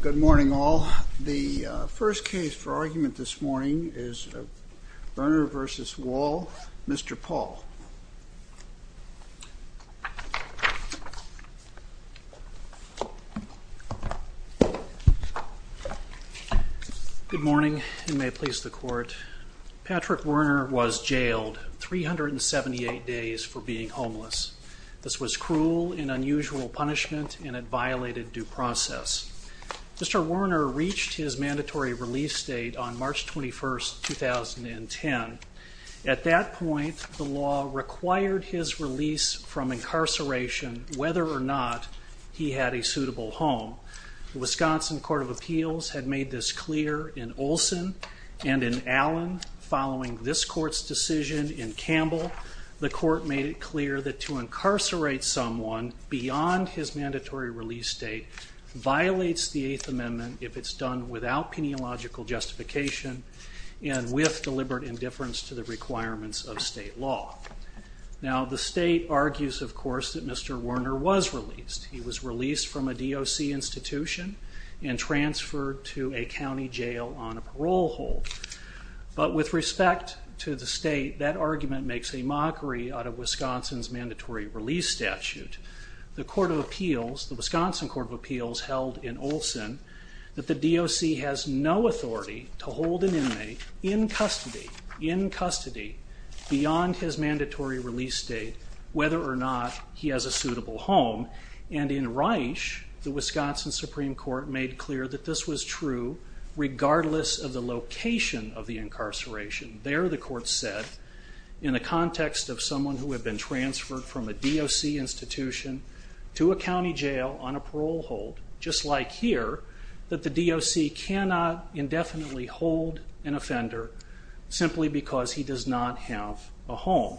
Good morning, all. The first case for argument this morning is Werner v. Wall. Mr. Paul. Good morning, and may it please the Court. Patrick Werner was jailed 378 days for being in unusual punishment, and it violated due process. Mr. Werner reached his mandatory release date on March 21, 2010. At that point, the law required his release from incarceration whether or not he had a suitable home. The Wisconsin Court of Appeals had made this clear in Olson and in Allen. Following this Court's decision in Campbell, the Court made it clear that to incarcerate someone beyond his mandatory release date violates the Eighth Amendment if it's done without penological justification and with deliberate indifference to the requirements of state law. Now, the state argues, of course, that Mr. Werner was released. He was released from a DOC institution and transferred to a county jail on a parole hold. But with respect to the state, that argument makes a mockery out of Wisconsin's mandatory release statute. The Wisconsin Court of Appeals held in Olson that the DOC has no authority to hold an inmate in custody beyond his mandatory release date whether or not he has a suitable home. And in Reich, the Wisconsin Supreme Court made clear that this was true regardless of the incarceration. There, the Court said, in the context of someone who had been transferred from a DOC institution to a county jail on a parole hold, just like here, that the DOC cannot indefinitely hold an offender simply because he does not have a home.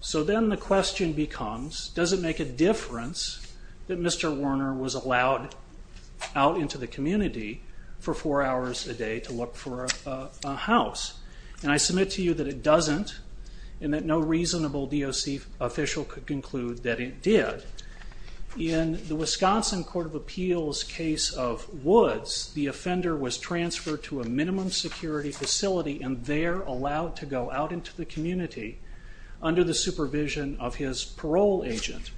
So then the question becomes, does it make a difference that Mr. Werner was allowed out into the community for four hours a day to look for a house? And I submit to you that it doesn't and that no reasonable DOC official could conclude that it did. In the Wisconsin Court of Appeals case of Woods, the offender was transferred to a minimum security facility and there allowed to go out into the community under the supervision of his parole agent.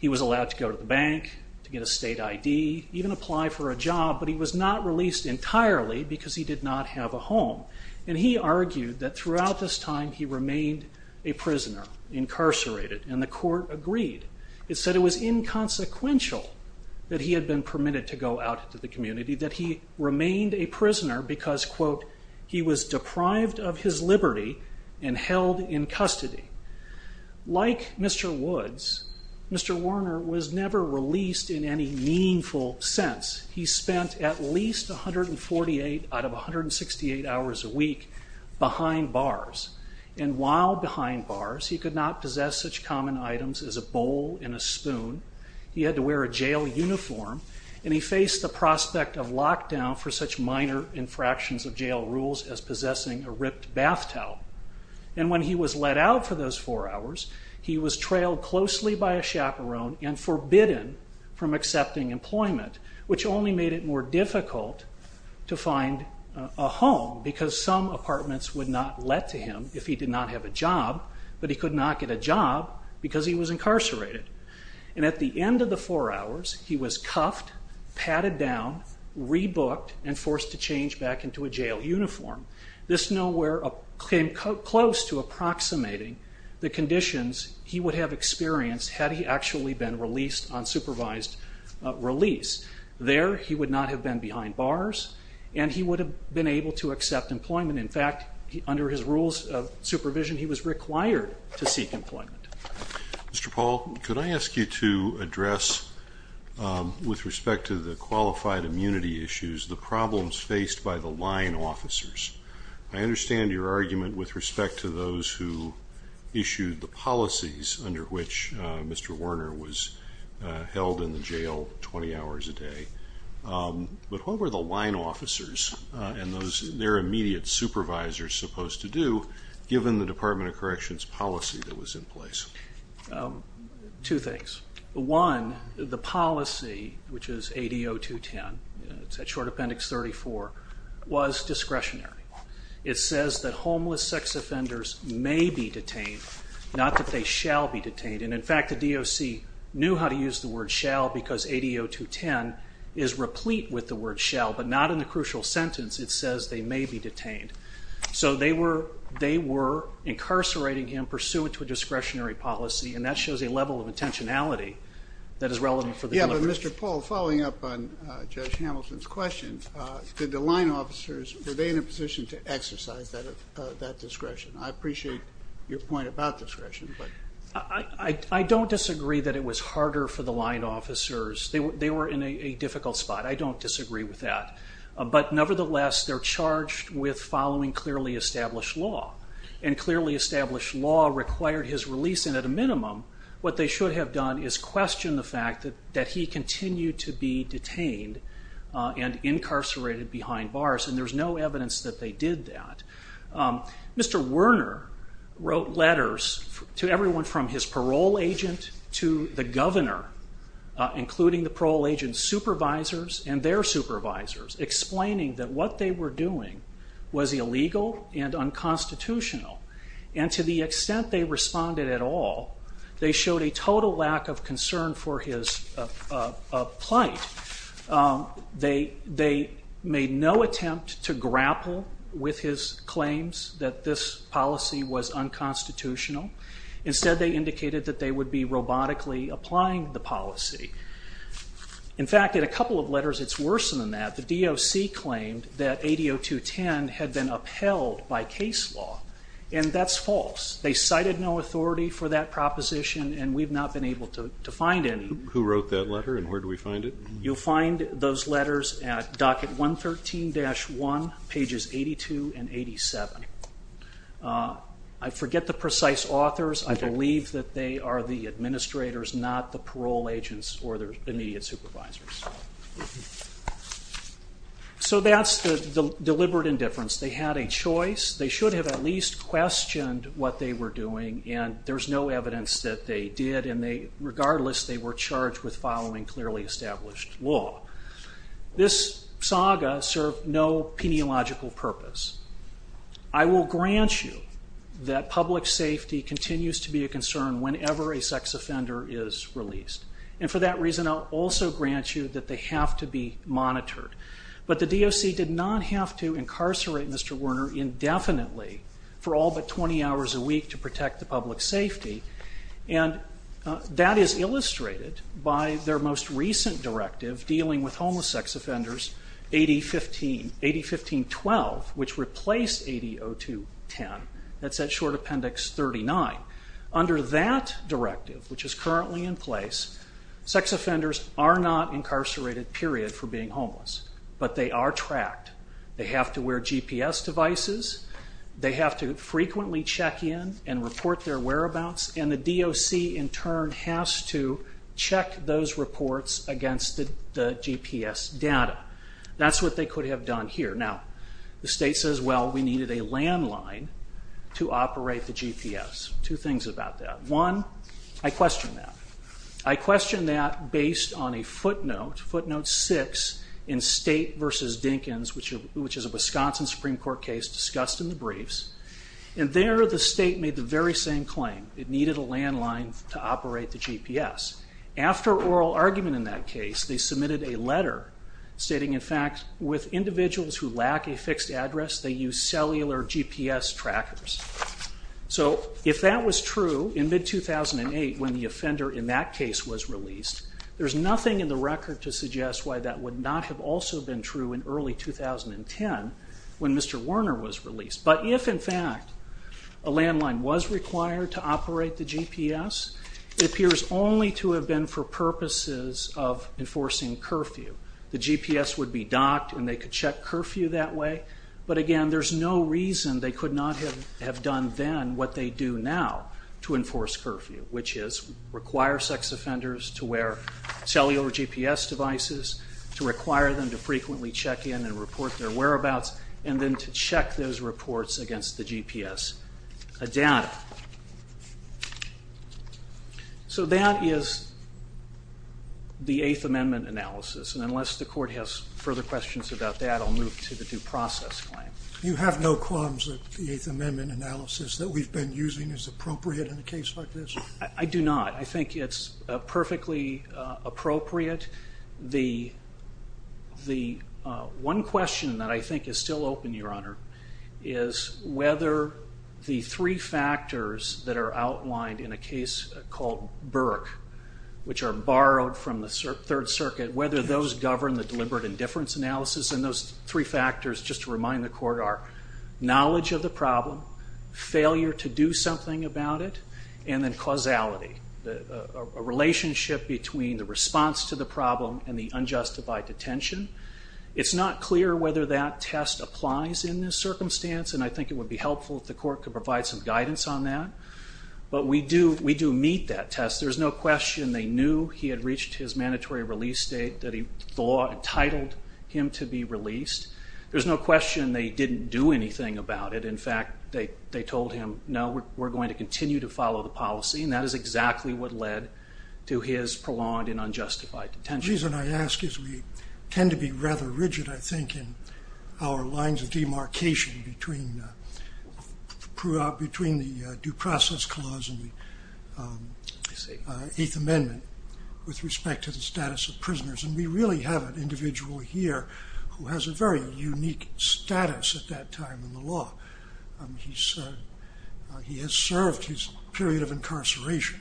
He was allowed to go to the bank, to get a state ID, even apply for a job, but he was not released entirely because he did not have a home. And he argued that throughout this time he remained a prisoner, incarcerated. And the Court agreed. It said it was inconsequential that he had been permitted to go out into the community, that he remained a prisoner because, quote, he was deprived of his liberty and held in custody. Like Mr. Woods, Mr. Werner was never released in any meaningful sense. He spent at least 148 out of 168 hours a week behind bars. And while behind bars, he could not possess such common items as a bowl and a spoon. He had to wear a jail uniform and he faced the prospect of lockdown for such minor infractions of jail rules as possessing a ripped bath towel. And when he was let out for those four hours, he was trailed closely by a chaperone and forbidden from accepting employment, which only made it more difficult to find a home because some apartments would not let to him if he did not have a job, but he could not get a job because he was incarcerated. And at the end of the four hours, he was cuffed, patted down, rebooked, and forced to change back into a jail uniform. This nowhere came close to approximating the conditions he would have experienced had he actually been released on supervised release. There, he would not have been behind bars and he would have been able to accept employment. In fact, under his rules of supervision, he was required to seek employment. Mr. Paul, could I ask you to address, with respect to the qualified immunity issues, the problems faced by the line officers? I understand your argument with respect to those who issued the policies under which Mr. Werner was held in the jail 20 hours a day, but what were the line officers and their immediate supervisors supposed to do, given the Department of Corrections policy that was in place? Two things. One, the policy, which is ADO-210, it's at Short Appendix 34, was discretionary. It says that homeless sex offenders may be detained, not that they shall be detained. And in fact, the DOC knew how to use the word shall because ADO-210 is replete with the word shall, but not in the crucial sentence it says they may be detained. So they were incarcerating him pursuant to a discretionary policy and that shows a level of intentionality that is relevant for the delivery. Mr. Paul, following up on Judge Hamilton's question, were the line officers in a position to exercise that discretion? I appreciate your point about discretion. I don't disagree that it was harder for the line officers. They were in a difficult spot. I don't disagree with that. But nevertheless, they're charged with following clearly established law. And clearly established law required his release, and at a minimum, what they should have done is question the fact that he continued to be detained and incarcerated behind bars. And there's no evidence that they did that. Mr. Werner wrote letters to everyone from his parole agent to the governor, including the parole agent's supervisors and their supervisors, explaining that what they were doing was illegal and unconstitutional. And to the extent they responded at all, they showed a total lack of concern for his plight. They made no attempt to grapple with his claims that this policy was unconstitutional. Instead, they indicated that they would be robotically applying the policy. In fact, in a couple of letters, it's worse than that. The DOC claimed that ADO 210 had been upheld by case law, and that's it. They cited no authority for that proposition, and we've not been able to find any. Who wrote that letter, and where do we find it? You'll find those letters at docket 113-1, pages 82 and 87. I forget the precise authors. I believe that they are the administrators, not the parole agents or their immediate supervisors. So that's the deliberate indifference. They had a choice. They should have at least questioned what they were doing, and there's no evidence that they did. And regardless, they were charged with following clearly established law. This saga served no peniological purpose. I will grant you that public safety continues to be a concern whenever a sex offender is released. And for that reason, I'll also grant you that they have to be monitored. But the DOC did not have to incarcerate Mr. Werner indefinitely for all but 20 hours a week to protect the public safety. And that is illustrated by their most recent directive dealing with homeless sex offenders, AD 15, AD 15-12, which replaced ADO 210. That's at short appendix 39. Under that directive, which is currently in place, sex offenders are not incarcerated, period, for being homeless. But they are tracked. They have to wear GPS devices. They have to frequently check in and report their whereabouts. And the DOC, in turn, has to check those reports against the GPS data. That's what they could have done here. Now, the state says, well, we needed a landline to operate the GPS. Two things about that. One, I question that. I question that based on a footnote, footnote 6, in State v. Dinkins, which is a Wisconsin Supreme Court case discussed in the briefs. And there, the state made the very same claim. It needed a landline to operate the GPS. After oral argument in that case, they submitted a letter stating, in fact, with individuals who lack a fixed address, they use cellular GPS trackers. So if that was true in mid-2008, when the offender in that case was released, there's nothing in the record to suggest why that would not have also been true in early 2010, when Mr. Warner was released. But if, in fact, a landline was required to operate the GPS, it appears only to have been for purposes of enforcing curfew. The GPS would be docked, and they could check curfew that way. But again, there's no reason they could not have done then what they do now to enforce curfew, which is require sex offenders to wear cellular GPS devices, to require them to frequently check in and report their whereabouts, and then to check those reports against the GPS data. So that is the Eighth Amendment analysis. And unless the Court has further questions about that, I'll move to the due process claim. You have no qualms that the Eighth Amendment analysis that we've been using is appropriate in a case like this? I do not. I think it's perfectly appropriate. The one question that I think is still open, Your Honor, is whether the three factors that are outlined in a case called Burke, which are borrowed from the Third Circuit, whether those govern the deliberate indifference analysis, and those three factors, just to remind the Court, are knowledge of the problem, failure to do something about it, and then causality, a relationship between the response to the problem and the unjustified detention. It's not clear whether that test applies in this circumstance, and I think it would be helpful if the Court could provide some guidance on that. But we do meet that test. There's no question they knew he had reached his mandatory release date that he thought entitled him to be released. There's no question they didn't do anything about it. In fact, they told him, no, we're going to continue to follow the policy, and that is exactly what led to his prolonged and unjustified detention. The reason I ask is we tend to be rather rigid, I think, in our lines of demarcation between the Due Process Clause and the Eighth Amendment with respect to the status of prisoners, and we really have an individual here who has a very unique status at that time in the law. He has served his period of incarceration.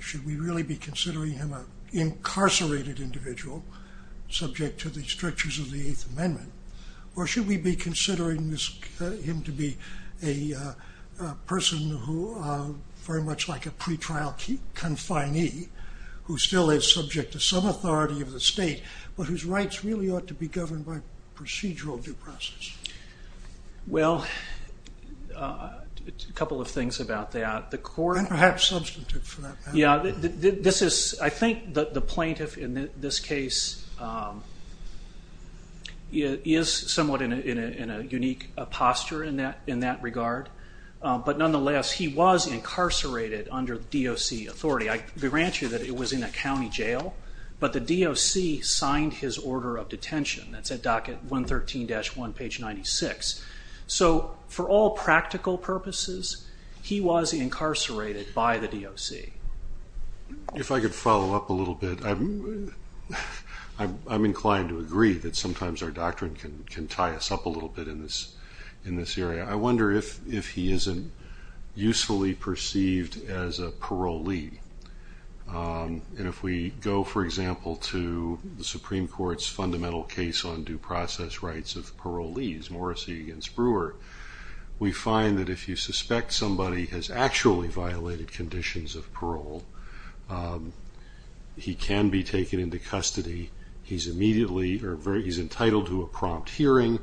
Should we really be considering him an incarcerated individual subject to the strictures of the Eighth Amendment, or should we be considering him to be a person who, very much like a pretrial confinee, who still is subject to some authority of the state, but whose rights really ought to be governed by procedural due process? Well, a couple of things about that. The Court... And perhaps substantive, for that matter. I think that the plaintiff in this case is somewhat in a unique position, and I think a unique posture in that regard, but nonetheless, he was incarcerated under DOC authority. I grant you that it was in a county jail, but the DOC signed his order of detention. That's at docket 113-1, page 96. So for all practical purposes, he was incarcerated by the DOC. If I could follow up a little bit, I'm inclined to agree that sometimes our doctrine can tie us up a little bit in this area. I wonder if he isn't usefully perceived as a parolee. If we go, for example, to the Supreme Court's fundamental case on due process rights of parolees, Morrissey v. Brewer, we find that if you suspect somebody has actually violated conditions of parole, he can be taken into custody. He's entitled to a prompt hearing.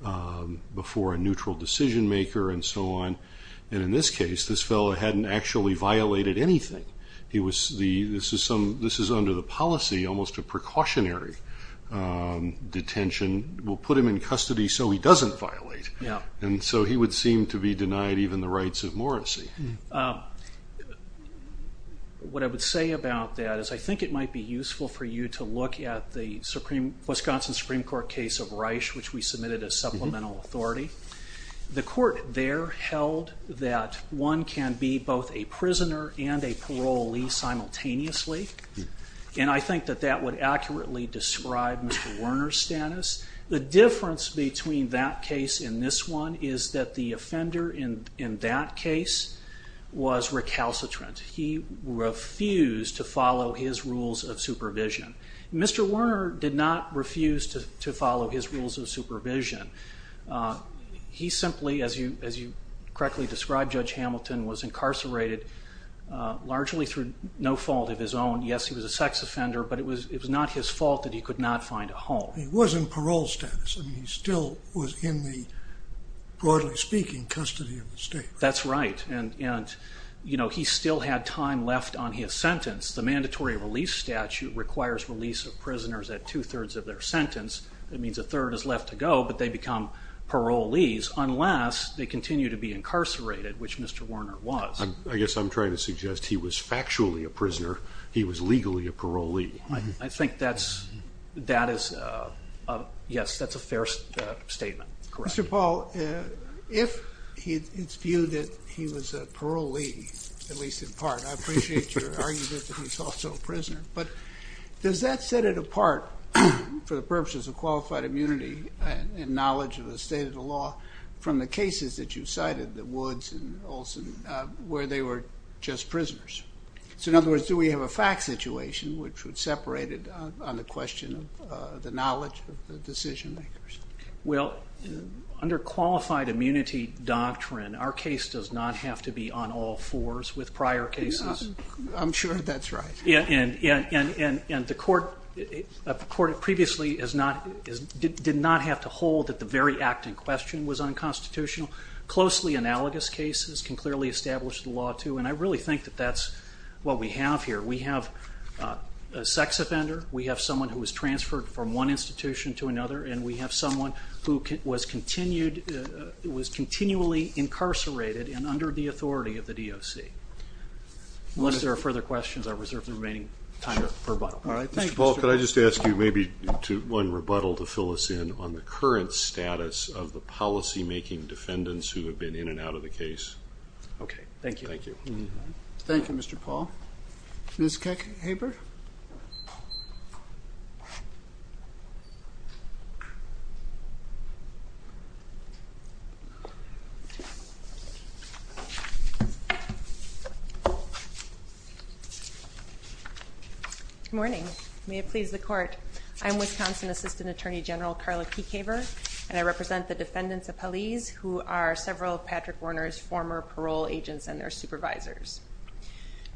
He's before a neutral decision maker, and so on. In this case, this fellow hadn't actually violated anything. This is under the policy, almost a precautionary detention. We'll put him in custody so he doesn't violate. He would seem to be denied even the rights of Morrissey. What I would say about that is I think it might be useful for you to look at the Wisconsin Supreme Court case of Reich, which we submitted as supplemental authority. The court there held that one can be both a prisoner and a parolee simultaneously, and I think that that would accurately describe Mr. Werner's status. The difference between that case and this one is that the offender in that case was recalcitrant. He refused to follow his rules of supervision. Mr. Werner did not refuse to follow his rules of supervision. He simply, as you correctly described, Judge Hamilton, was incarcerated largely through no fault of his own. Yes, he was a sex offender, but it was not his fault that he could not find a home. He was in parole status. I mean, he still was in the, broadly speaking, custody of the state. That's right. He still had time left on his sentence. The mandatory release statute requires release of prisoners at two-thirds of their sentence. That means a third is left to go, but they become parolees unless they continue to be incarcerated, which Mr. Werner was. I guess I'm trying to suggest he was factually a prisoner. He was legally a parolee. I think that is, yes, that's a fair statement. Correct. Mr. Paul, if it's a parolee, at least in part, I appreciate your argument that he's also a prisoner, but does that set it apart for the purposes of qualified immunity and knowledge of the state of the law from the cases that you cited, the Woods and Olson, where they were just prisoners? In other words, do we have a fact situation which would separate it on the question of the knowledge of the decision makers? Well, under qualified immunity doctrine, our case does not have to be on all fours with prior cases. I'm sure that's right. Yeah, and the court previously did not have to hold that the very act in question was unconstitutional. Closely analogous cases can clearly establish the law, too, and I really think that that's what we have here. We have a sex offender. We have someone who was transferred from one and under the authority of the DOC. Unless there are further questions, I reserve the remaining time for rebuttal. Mr. Paul, could I just ask you maybe one rebuttal to fill us in on the current status of the policy making defendants who have been in and out of the case? Okay, thank you. Thank you. Thank you, Mr. Paul. Ms. Keck-Habert? Good morning. May it please the court. I'm Wisconsin Assistant Attorney General Carla Keck-Habert, and I represent the defendants of Hallease who are several of Patrick Warner's former parole agents and their supervisors.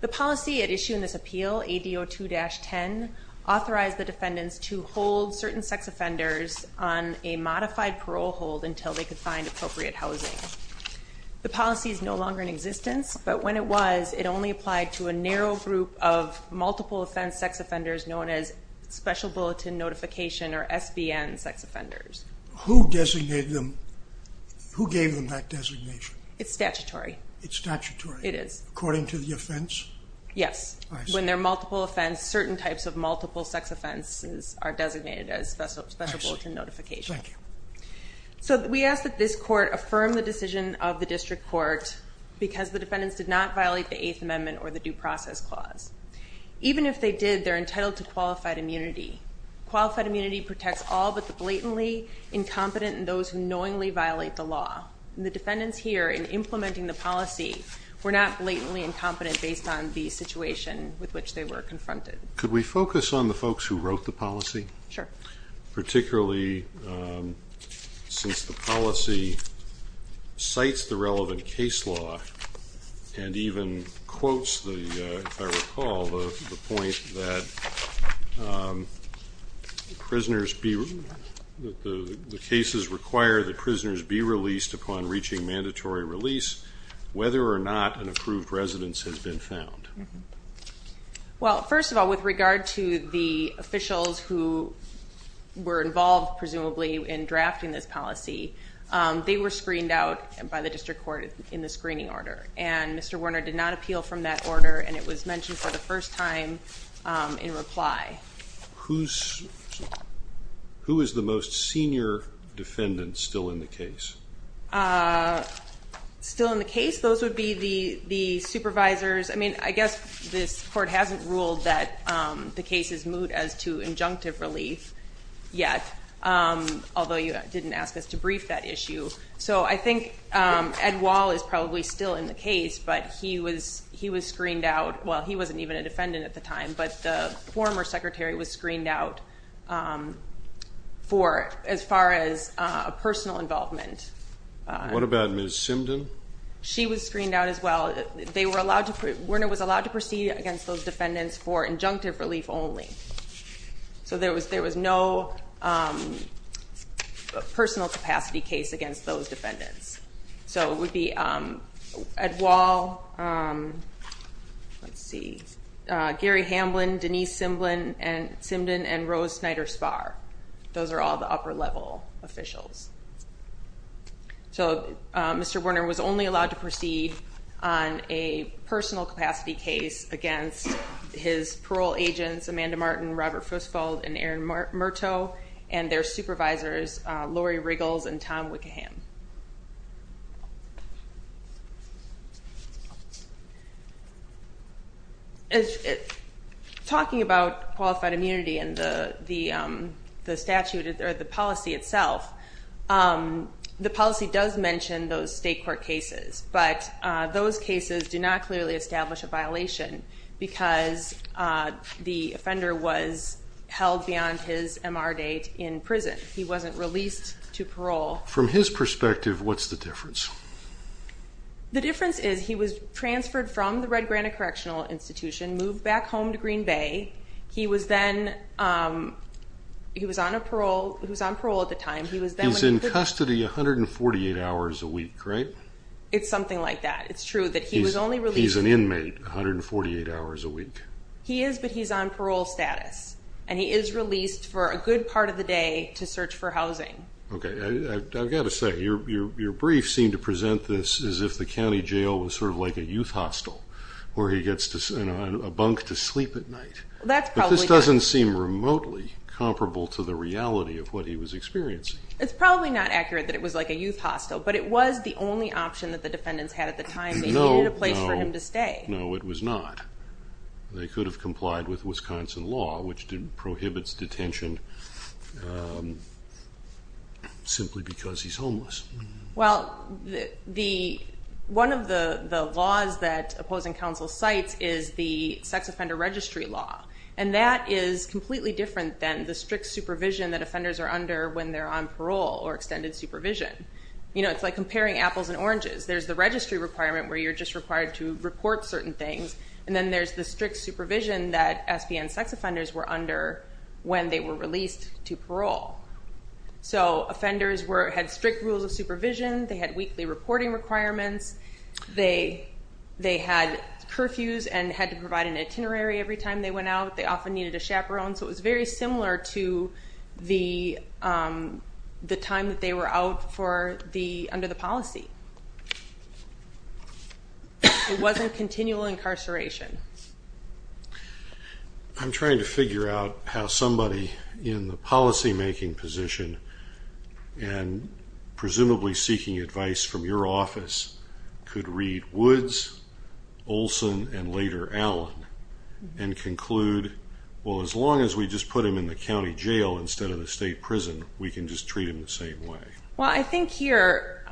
The policy at issue in this appeal, ADO 2-10, authorized the defendants to hold certain sex offenders on a modified parole hold until they could find appropriate housing. The policy is no longer in existence, but when it was, it only applied to a narrow group of multiple offense sex offenders known as special bulletin notification, or SBN, sex offenders. Who gave them that designation? It's statutory. It's statutory? It is. According to the offense? Yes. I see. When there are multiple offense, certain types of multiple sex offenses are designated as special bulletin notification. Thank you. So we ask that this court affirm the decision of the district court because the defendants did not violate the Eighth Amendment or the Due Process Clause. Even if they did, they're entitled to qualified immunity. Qualified immunity protects all but the blatantly incompetent and those who knowingly violate the law. The defendants here in implementing the policy were not blatantly incompetent based on the situation with which they were confronted. Could we focus on the folks who wrote the policy? Sure. Particularly since the policy cites the relevant case law and even quotes, if I recall, the point that the cases require that prisoners be released upon reaching mandatory release whether or not an approved residence has been found. Well, first of all, with regard to the officials who were involved, presumably, in drafting this policy, they were screened out by the district court in the screening order and Mr. Warner did not appeal from that order and it was mentioned for the first time in reply. Who is the most senior defendant still in the case? Still in the case? Those would be the supervisors. I mean, I guess this court hasn't ruled that the case is moot as to injunctive relief yet, although you didn't ask us to brief that issue. So I think Ed Wall is probably still in the case but he was screened out, well he wasn't even a defendant at the time, but the former secretary was screened out for, as far as a personal involvement. What about Ms. Simden? She was screened out as well. They were allowed to, Warner was allowed to proceed against those defendants for injunctive relief only. So there was no personal capacity case against those defendants. So it would be Ed Wall, let's see, Gary Hamblin, Denise Simden, and Rose Snyder Smith. Those are all the upper level officials. So Mr. Warner was only allowed to proceed on a personal capacity case against his parole agents, Amanda Martin, Robert Fussfeld, and Aaron Murto, and their supervisors, Lori Riggles and Tom Wickeham. Talking about qualified immunity and the statute, or the policy itself, the policy does mention those state court cases, but those cases do not clearly establish a violation because the offender was held beyond his MR date in prison. He wasn't released to parole. From his perspective, what's the difference? The difference is he was transferred from the Red Granite Correctional Institution, moved back home to Green Bay. He was on parole at the time. He's in custody 148 hours a week, right? It's something like that. It's true that he was only released... He's an inmate, 148 hours a week. He is, but he's on parole status, and he is released for a good part of the day to search for housing. Okay, I've got to say, your briefs seem to present this as if the county jail was sort of like a youth hostel, where he gets a bunk to sleep at night. That's probably... But this doesn't seem remotely comparable to the reality of what he was experiencing. It's probably not accurate that it was like a youth hostel, but it was the only option that the defendants had at the time. They needed a place for him to stay. No, it was not. They could have complied with Wisconsin law, which prohibits detention simply because he's homeless. One of the laws that opposing counsel cites is the sex offender registry law, and that is completely different than the strict supervision that offenders are under when they're on parole or extended supervision. It's like comparing apples and oranges. There's the registry requirement where you're just required to report certain things, and then there's the strict supervision that SPN sex offenders were under when they were released to parole. Offenders had strict rules of supervision. They had weekly reporting requirements. They had curfews and had to provide an itinerary every time they went out. They often needed a chaperone, so it was very similar to the time that they were out under the policy. It wasn't continual incarceration. I'm trying to figure out how somebody in the policymaking position, and presumably seeking advice from your office, could read Woods, Olson, and later Allen, and conclude, well as long as we just put him in the county jail instead of the state prison, we can just treat him the same way. Well, I think here,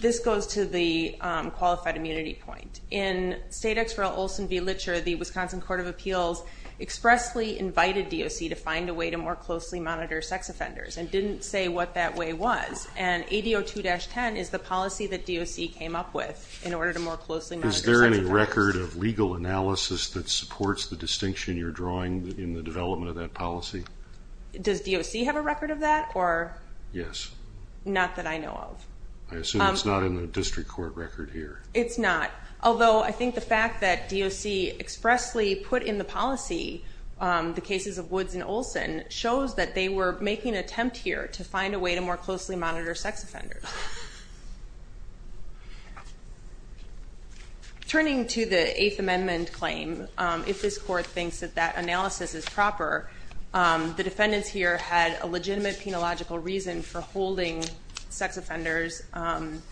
this goes to the qualified immunity point. In State Exeral Olson v. Litcher, the Wisconsin Court of Appeals expressly invited DOC to find a way to more closely monitor sex offenders, and didn't say what that way was. And ADO 2-10 is the policy that DOC came up with in order to more closely monitor sex offenders. Is there any record of legal analysis that supports the distinction you're drawing in the development of that policy? Does DOC have a record of that, or? Yes. Not that I know of. I assume it's not in the district court record here. It's not. Although, I think the fact that DOC expressly put in the policy the cases of Woods and Olson shows that they were making an attempt here to find a way to more closely monitor sex offenders. Turning to the Eighth Amendment claim, if this court thinks that that analysis is proper, the defendants here had a legitimate penological reason for holding sex offenders on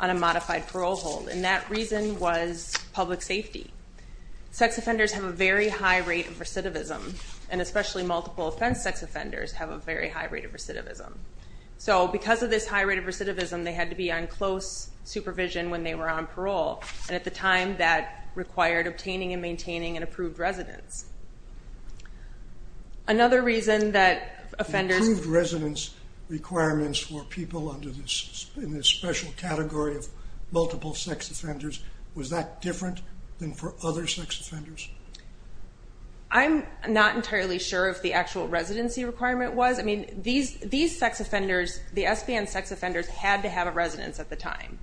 a modified parole hold, and that reason was public safety. Sex offenders have a very high rate of recidivism, and especially multiple offense sex offenders have a very high rate of recidivism. So because of this high rate of recidivism, they had to be on close supervision when they were on parole, and at the time, that required obtaining and maintaining an approved residence. Another reason that offenders... Improved residence requirements for people under this special category of multiple sex offenders, was that different than for other sex offenders? I'm not entirely sure if the actual residency requirement was. I mean, these sex offenders, the SBN sex offenders had to have a residence at the time,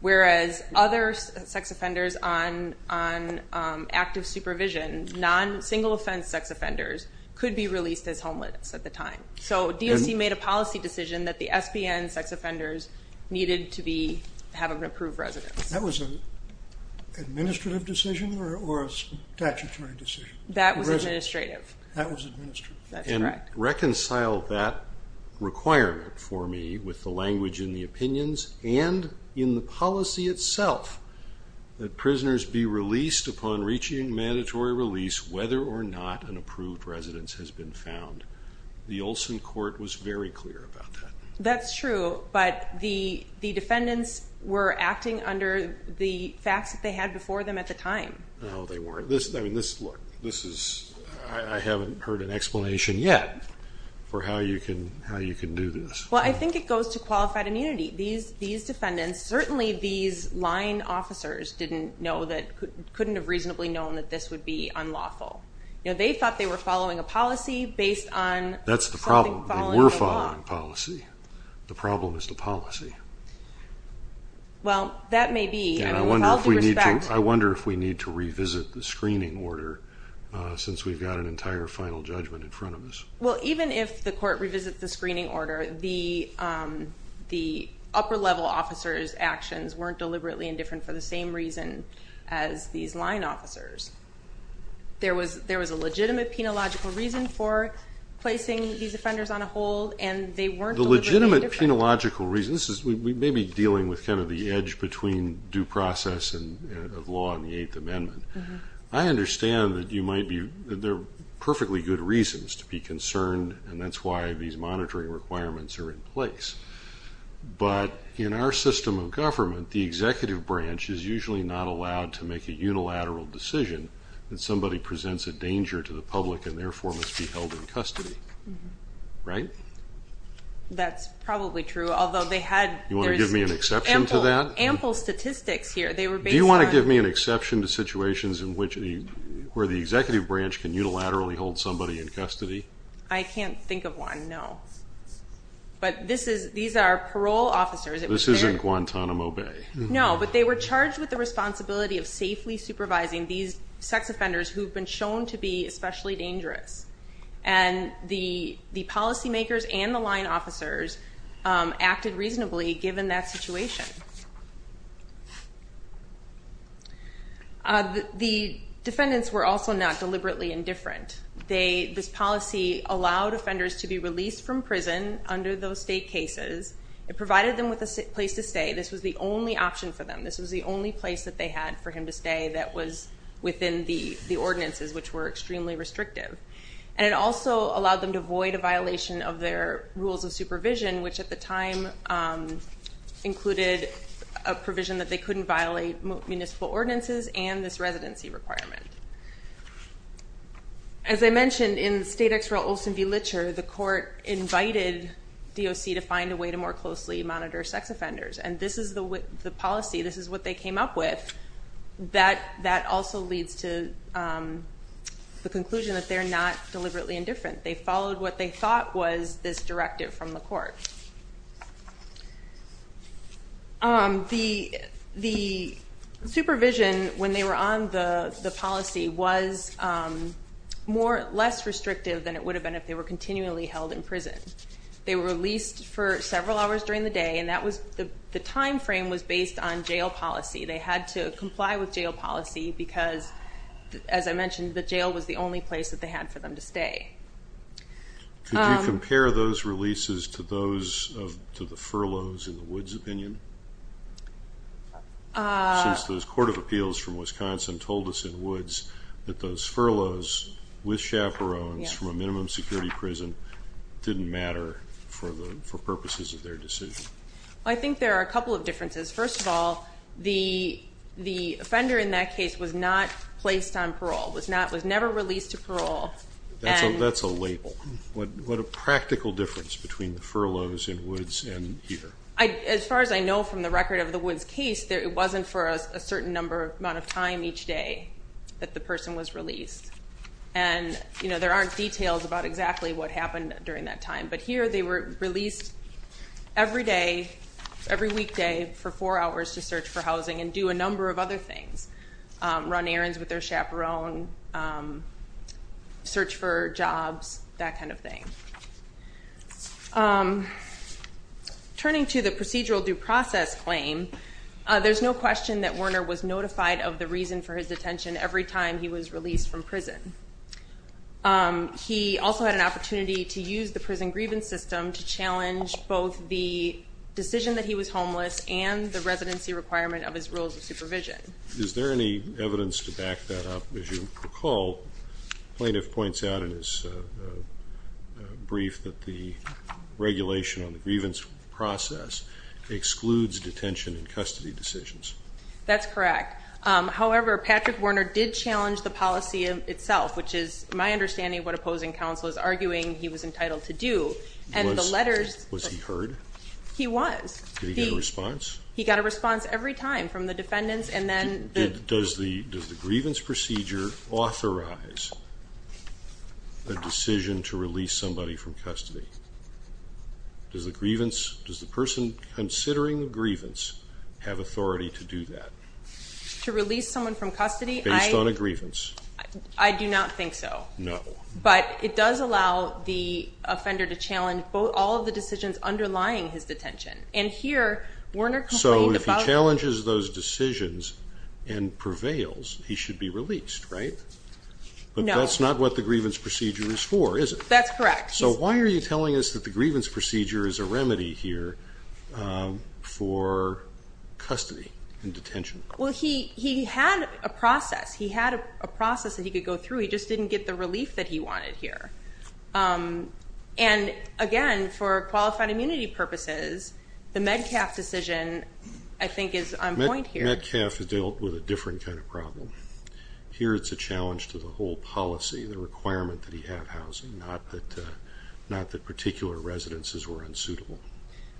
whereas other sex offenders on active supervision, non-single offense sex offenders, could be released as homeless at the time. So DOC made a policy decision that the SBN sex offenders needed to have an approved residence. That was an administrative decision or a statutory decision? That was administrative. That was administrative. And reconciled that requirement for me with the language in the opinions and in the policy itself that prisoners be released upon reaching mandatory release whether or not an approved residence has been found. The Olson court was very clear about that. That's true, but the defendants were acting under the facts that they had before them at the time. No, they weren't. I haven't heard an explanation yet for how you can do this. Well, I think it goes to qualified immunity. These defendants, certainly these line officers didn't know, couldn't have reasonably known that this would be unlawful. They thought they were following a policy based on... That's the problem. They were following a policy. The problem is the policy. Well, that may be, with all due respect... I wonder if we need to revisit the screening order since we've got an entire final judgment in front of us. Well, even if the court revisits the screening order, the upper level officers' actions weren't deliberately indifferent for the same reason as these line officers. There was a legitimate penological reason for placing these offenders on a hold, and they weren't deliberately indifferent. Legitimate penological reasons, we may be dealing with kind of the edge between due process of law and the Eighth Amendment. I understand that there are perfectly good reasons to be concerned, and that's why these monitoring requirements are in place. But in our system of government, the executive branch is usually not allowed to make a unilateral decision that somebody presents a danger to the public and therefore must be held in custody. Right? That's probably true, although they had... You want to give me an exception to that? Ample statistics here. They were based on... Do you want to give me an exception to situations where the executive branch can unilaterally hold somebody in custody? I can't think of one, no. But these are parole officers. This isn't Guantanamo Bay. No, but they were charged with the responsibility of safely supervising these sex offenders who've been shown to be especially dangerous. And the policy makers and the line officers acted reasonably given that situation. The defendants were also not deliberately indifferent. This policy allowed offenders to be released from prison under those state cases. It provided them with a place to stay. This was the only option for them. This was the only place that they had for him to stay that was within the ordinances, which were extremely restrictive. And it also allowed them to avoid a violation of their rules of supervision, which at the time included a provision that they couldn't violate municipal ordinances and this residency requirement. As I mentioned, in the state XREL Olson v. Litcher, the court invited DOC to find a way to more closely monitor sex offenders. And this is the policy. This is what they came up with. That also leads to the conclusion that they're not deliberately indifferent. They followed what they thought was this directive from the court. The supervision when they were on the policy was less restrictive than it would have been if they were continually held in prison. They were released for several hours during the day, and the time frame was based on jail policy. They had to comply with jail policy because, as I mentioned, the jail was the only place that they had for them to stay. Could you compare those releases to those of the furloughs in the Woods opinion? Since those Court of Appeals from Wisconsin told us in Woods that those furloughs with I think there are a couple of differences. First of all, the offender in that case was not placed on parole, was never released to parole. That's a label. What a practical difference between the furloughs in Woods and here. As far as I know from the record of the Woods case, it wasn't for a certain amount of time each day that the person was released. And there aren't details about exactly what happened during that time. But here they were released every day, every weekday for four hours to search for housing and do a number of other things. Run errands with their chaperone, search for jobs, that kind of thing. Turning to the procedural due process claim, there's no question that Werner was notified of the reason for his detention every time he was released from prison. He also had an opportunity to use the prison grievance system to challenge both the decision that he was homeless and the residency requirement of his rules of supervision. Is there any evidence to back that up? As you recall, the plaintiff points out in his brief that the regulation on the grievance process excludes detention and custody decisions. That's correct. However, Patrick Werner did challenge the policy itself, which is my understanding what opposing counsel is arguing he was entitled to do. Was he heard? He was. Did he get a response? He got a response every time from the defendants. Does the grievance procedure authorize a decision to release somebody from custody? Does the person considering the grievance have authority to do that? To release someone from custody? Based on a grievance. I do not think so. No. But it does allow the offender to challenge all of the decisions underlying his detention. And here, Werner complained about... So if he challenges those decisions and prevails, he should be released, right? No. But that's not what the grievance procedure is for, is it? That's correct. So why are you telling us that the grievance procedure is a remedy here for custody and detention? Well, he had a process. He had a process that he could go through. He just didn't get the relief that he wanted here. And again, for qualified immunity purposes, the Metcalf decision, I think, is on point here. Metcalf has dealt with a different kind of problem. Here, it's a challenge to the whole policy, the requirement that he have housing, not that particular residences were unsuitable.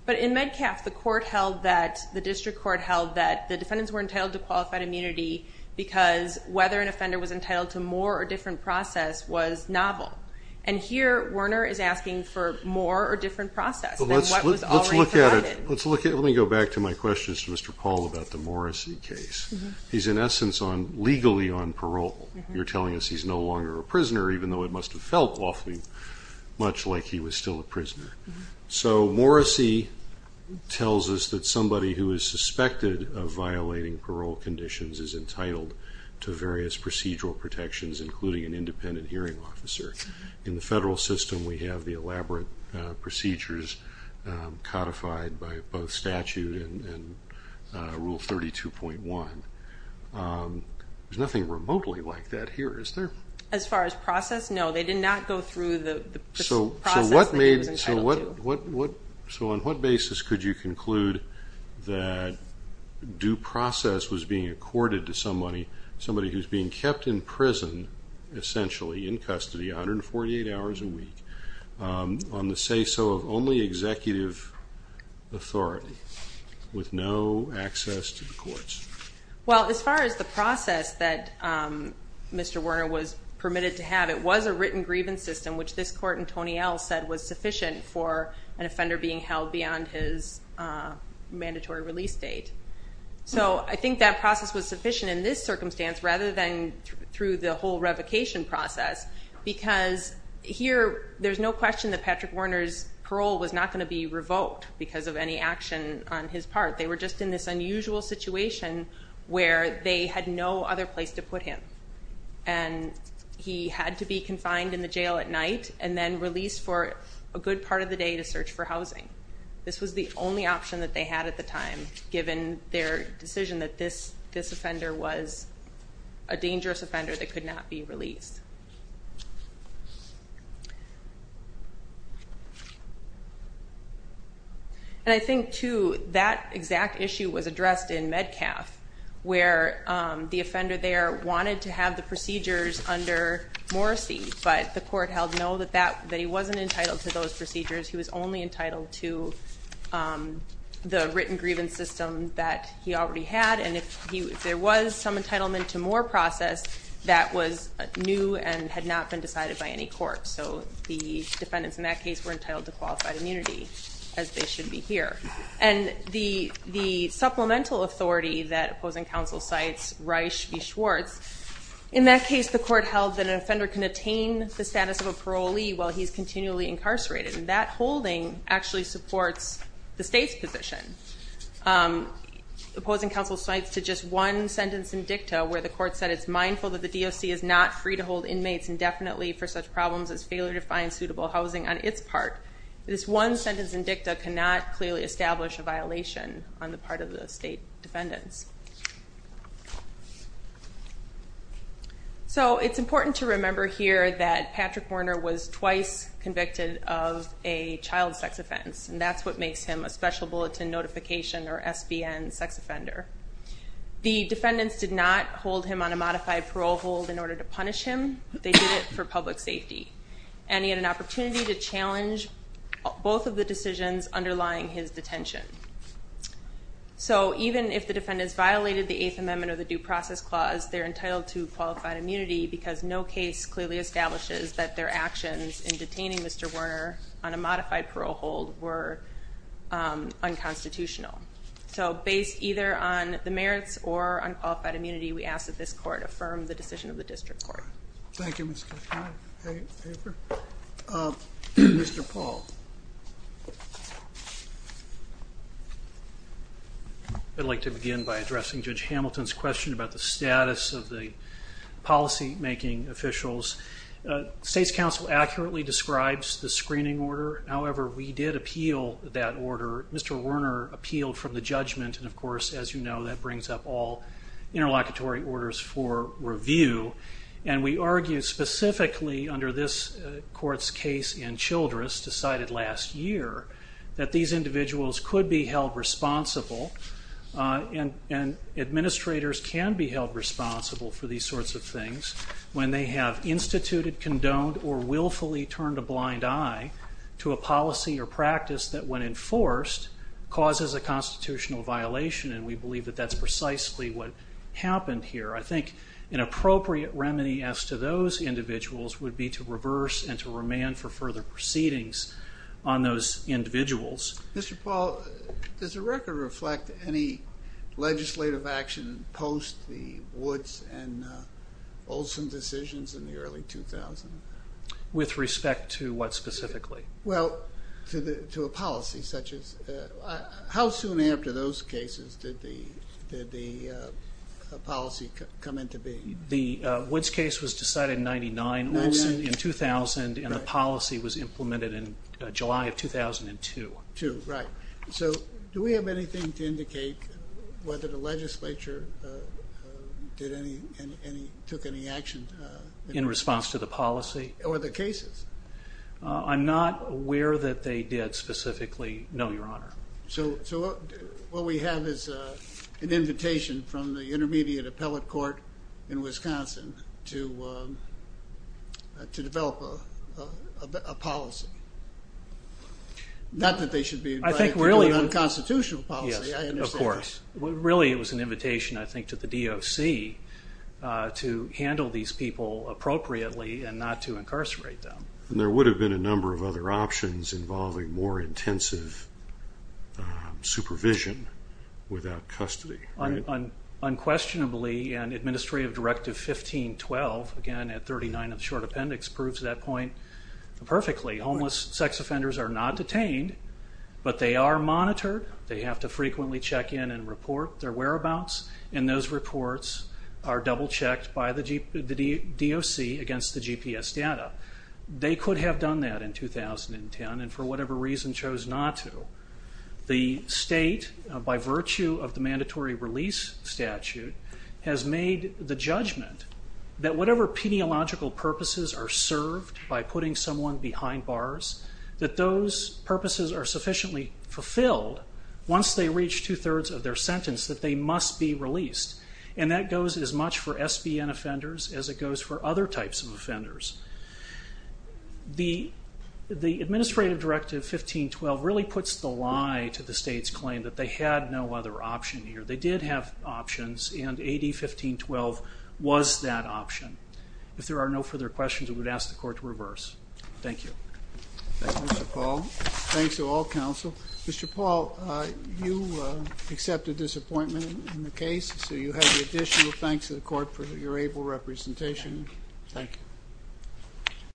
But in Metcalf, the district court held that the defendants were entitled to qualified immunity because whether an offender was entitled to more or different process was novel. And here, Werner is asking for more or different process than what was already provided. Let me go back to my questions to Mr. Paul about the Morrissey case. He's, in essence, legally on parole. You're telling us he's no longer a prisoner, even though it must have felt awfully much like he was still a prisoner. So Morrissey tells us that somebody who is suspected of violating parole conditions is entitled to various procedural protections, including an independent hearing officer. In the federal system, we have the elaborate procedures codified by both statute and Rule 32.1. There's nothing remotely like that here, is there? As far as process, no. They did not go through the process that he was entitled to. So on what basis could you conclude that due process was being accorded to somebody who's being kept in prison, essentially in custody, 148 hours a week, on the say-so of only executive authority, with no access to the courts? Well, as far as the process that Mr. Werner was permitted to have, it was a written grievance system, which this court in Tony L. said was sufficient for an offender being held beyond his mandatory release date. So I think that process was sufficient in this circumstance rather than through the whole revocation process, because here there's no question that Patrick Werner's parole was not going to be revoked because of any action on his part. They were just in this unusual situation where they had no other place to put him. And he had to be confined in the jail at night and then released for a good part of the day to search for housing. This was the only option that they had at the time, given their decision that this offender was a dangerous offender that could not be released. And I think, too, that exact issue was addressed in Medcalf, where the offender there wanted to have the procedures under Morrisey, but the court held no, that he wasn't entitled to those procedures. He was only entitled to the written grievance system that he already had. And if there was some entitlement to more process, that was a new, and had not been decided by any court. So the defendants in that case were entitled to qualified immunity, as they should be here. And the supplemental authority that opposing counsel cites, Reisch v. Schwartz, in that case the court held that an offender can attain the status of a parolee while he's continually incarcerated. And that holding actually supports the state's position. Opposing counsel cites to just one sentence in dicta, where the court said it's mindful that the DOC is not free to hold inmates indefinitely for such problems as failure to find suitable housing on its part. This one sentence in dicta cannot clearly establish a violation on the part of the state defendants. So it's important to remember here that Patrick Warner was twice convicted of a child sex offense, and that's what makes him a Special Bulletin Notification or SBN sex offender. The defendants did not hold him on a modified parole hold in order to punish him. They did it for public safety. And he had an opportunity to challenge both of the decisions underlying his detention. So even if the defendants violated the Eighth Amendment or the Due Process Clause, they're entitled to qualified immunity because no case clearly establishes that their actions in detaining Mr. Warner on a modified parole hold were unconstitutional. So based either on the merits or on qualified immunity, we ask that this court affirm the decision of the district court. Thank you, Mr. O'Connor. Any further? Mr. Paul. I'd like to begin by addressing Judge Hamilton's question about the status of the policymaking officials. State's counsel accurately describes the screening order. However, we did appeal that order. Mr. Warner appealed from the judgment, and of course, as you know, that brings up all interlocutory orders for review. And we argue specifically under this court's case in Childress, decided last year, that these individuals could be held responsible and administrators can be held responsible for these sorts of things when they have instituted, condoned, or willfully turned a blind eye to a policy or practice that, when enforced, causes a constitutional violation. And we believe that that's precisely what happened here. I think an appropriate remedy as to those individuals would be to reverse and to remand for further proceedings on those individuals. Mr. Paul, does the record reflect any legislative action post the Woods and Olson decisions in the early 2000s? With respect to what specifically? Well, to a policy such as... How soon after those cases did the policy come into being? The Woods case was decided in 1999, Olson in 2000, and the policy was implemented in July of 2002. So do we have anything to indicate whether the legislature took any action? In response to the policy? Or the cases? I'm not aware that they did specifically. No, Your Honor. So what we have is an invitation from the Intermediate Appellate Court in Wisconsin to develop a policy. Not that they should be invited to do an unconstitutional policy. Yes, of course. Really, it was an invitation, I think, to the DOC to handle these people appropriately and not to incarcerate them. And there would have been a number of other options involving more intensive supervision without custody, right? Unquestionably, and Administrative Directive 1512, again at 39 of the Short Appendix, proves that point perfectly. Homeless sex offenders are not detained, but they are monitored. They have to frequently check in and report their whereabouts, and those reports are double-checked by the DOC against the GPS data. They could have done that in 2010, and for whatever reason chose not to. The state, by virtue of the mandatory release statute, has made the judgment that whatever peniological purposes are served by putting someone behind bars, that those purposes are sufficiently fulfilled once they reach two-thirds of their sentence, that they must be released. And that goes as much for SBN offenders as it goes for other types of offenders. The Administrative Directive 1512 really puts the lie to the state's claim that they had no other option here. They did have options, and AD 1512 was that option. If there are no further questions, I would ask the Court to reverse. Thank you. Mr. Paul, thanks to all counsel. Mr. Paul, you accepted this appointment in the case, so you have the additional thanks to the Court for your able representation. Thank you.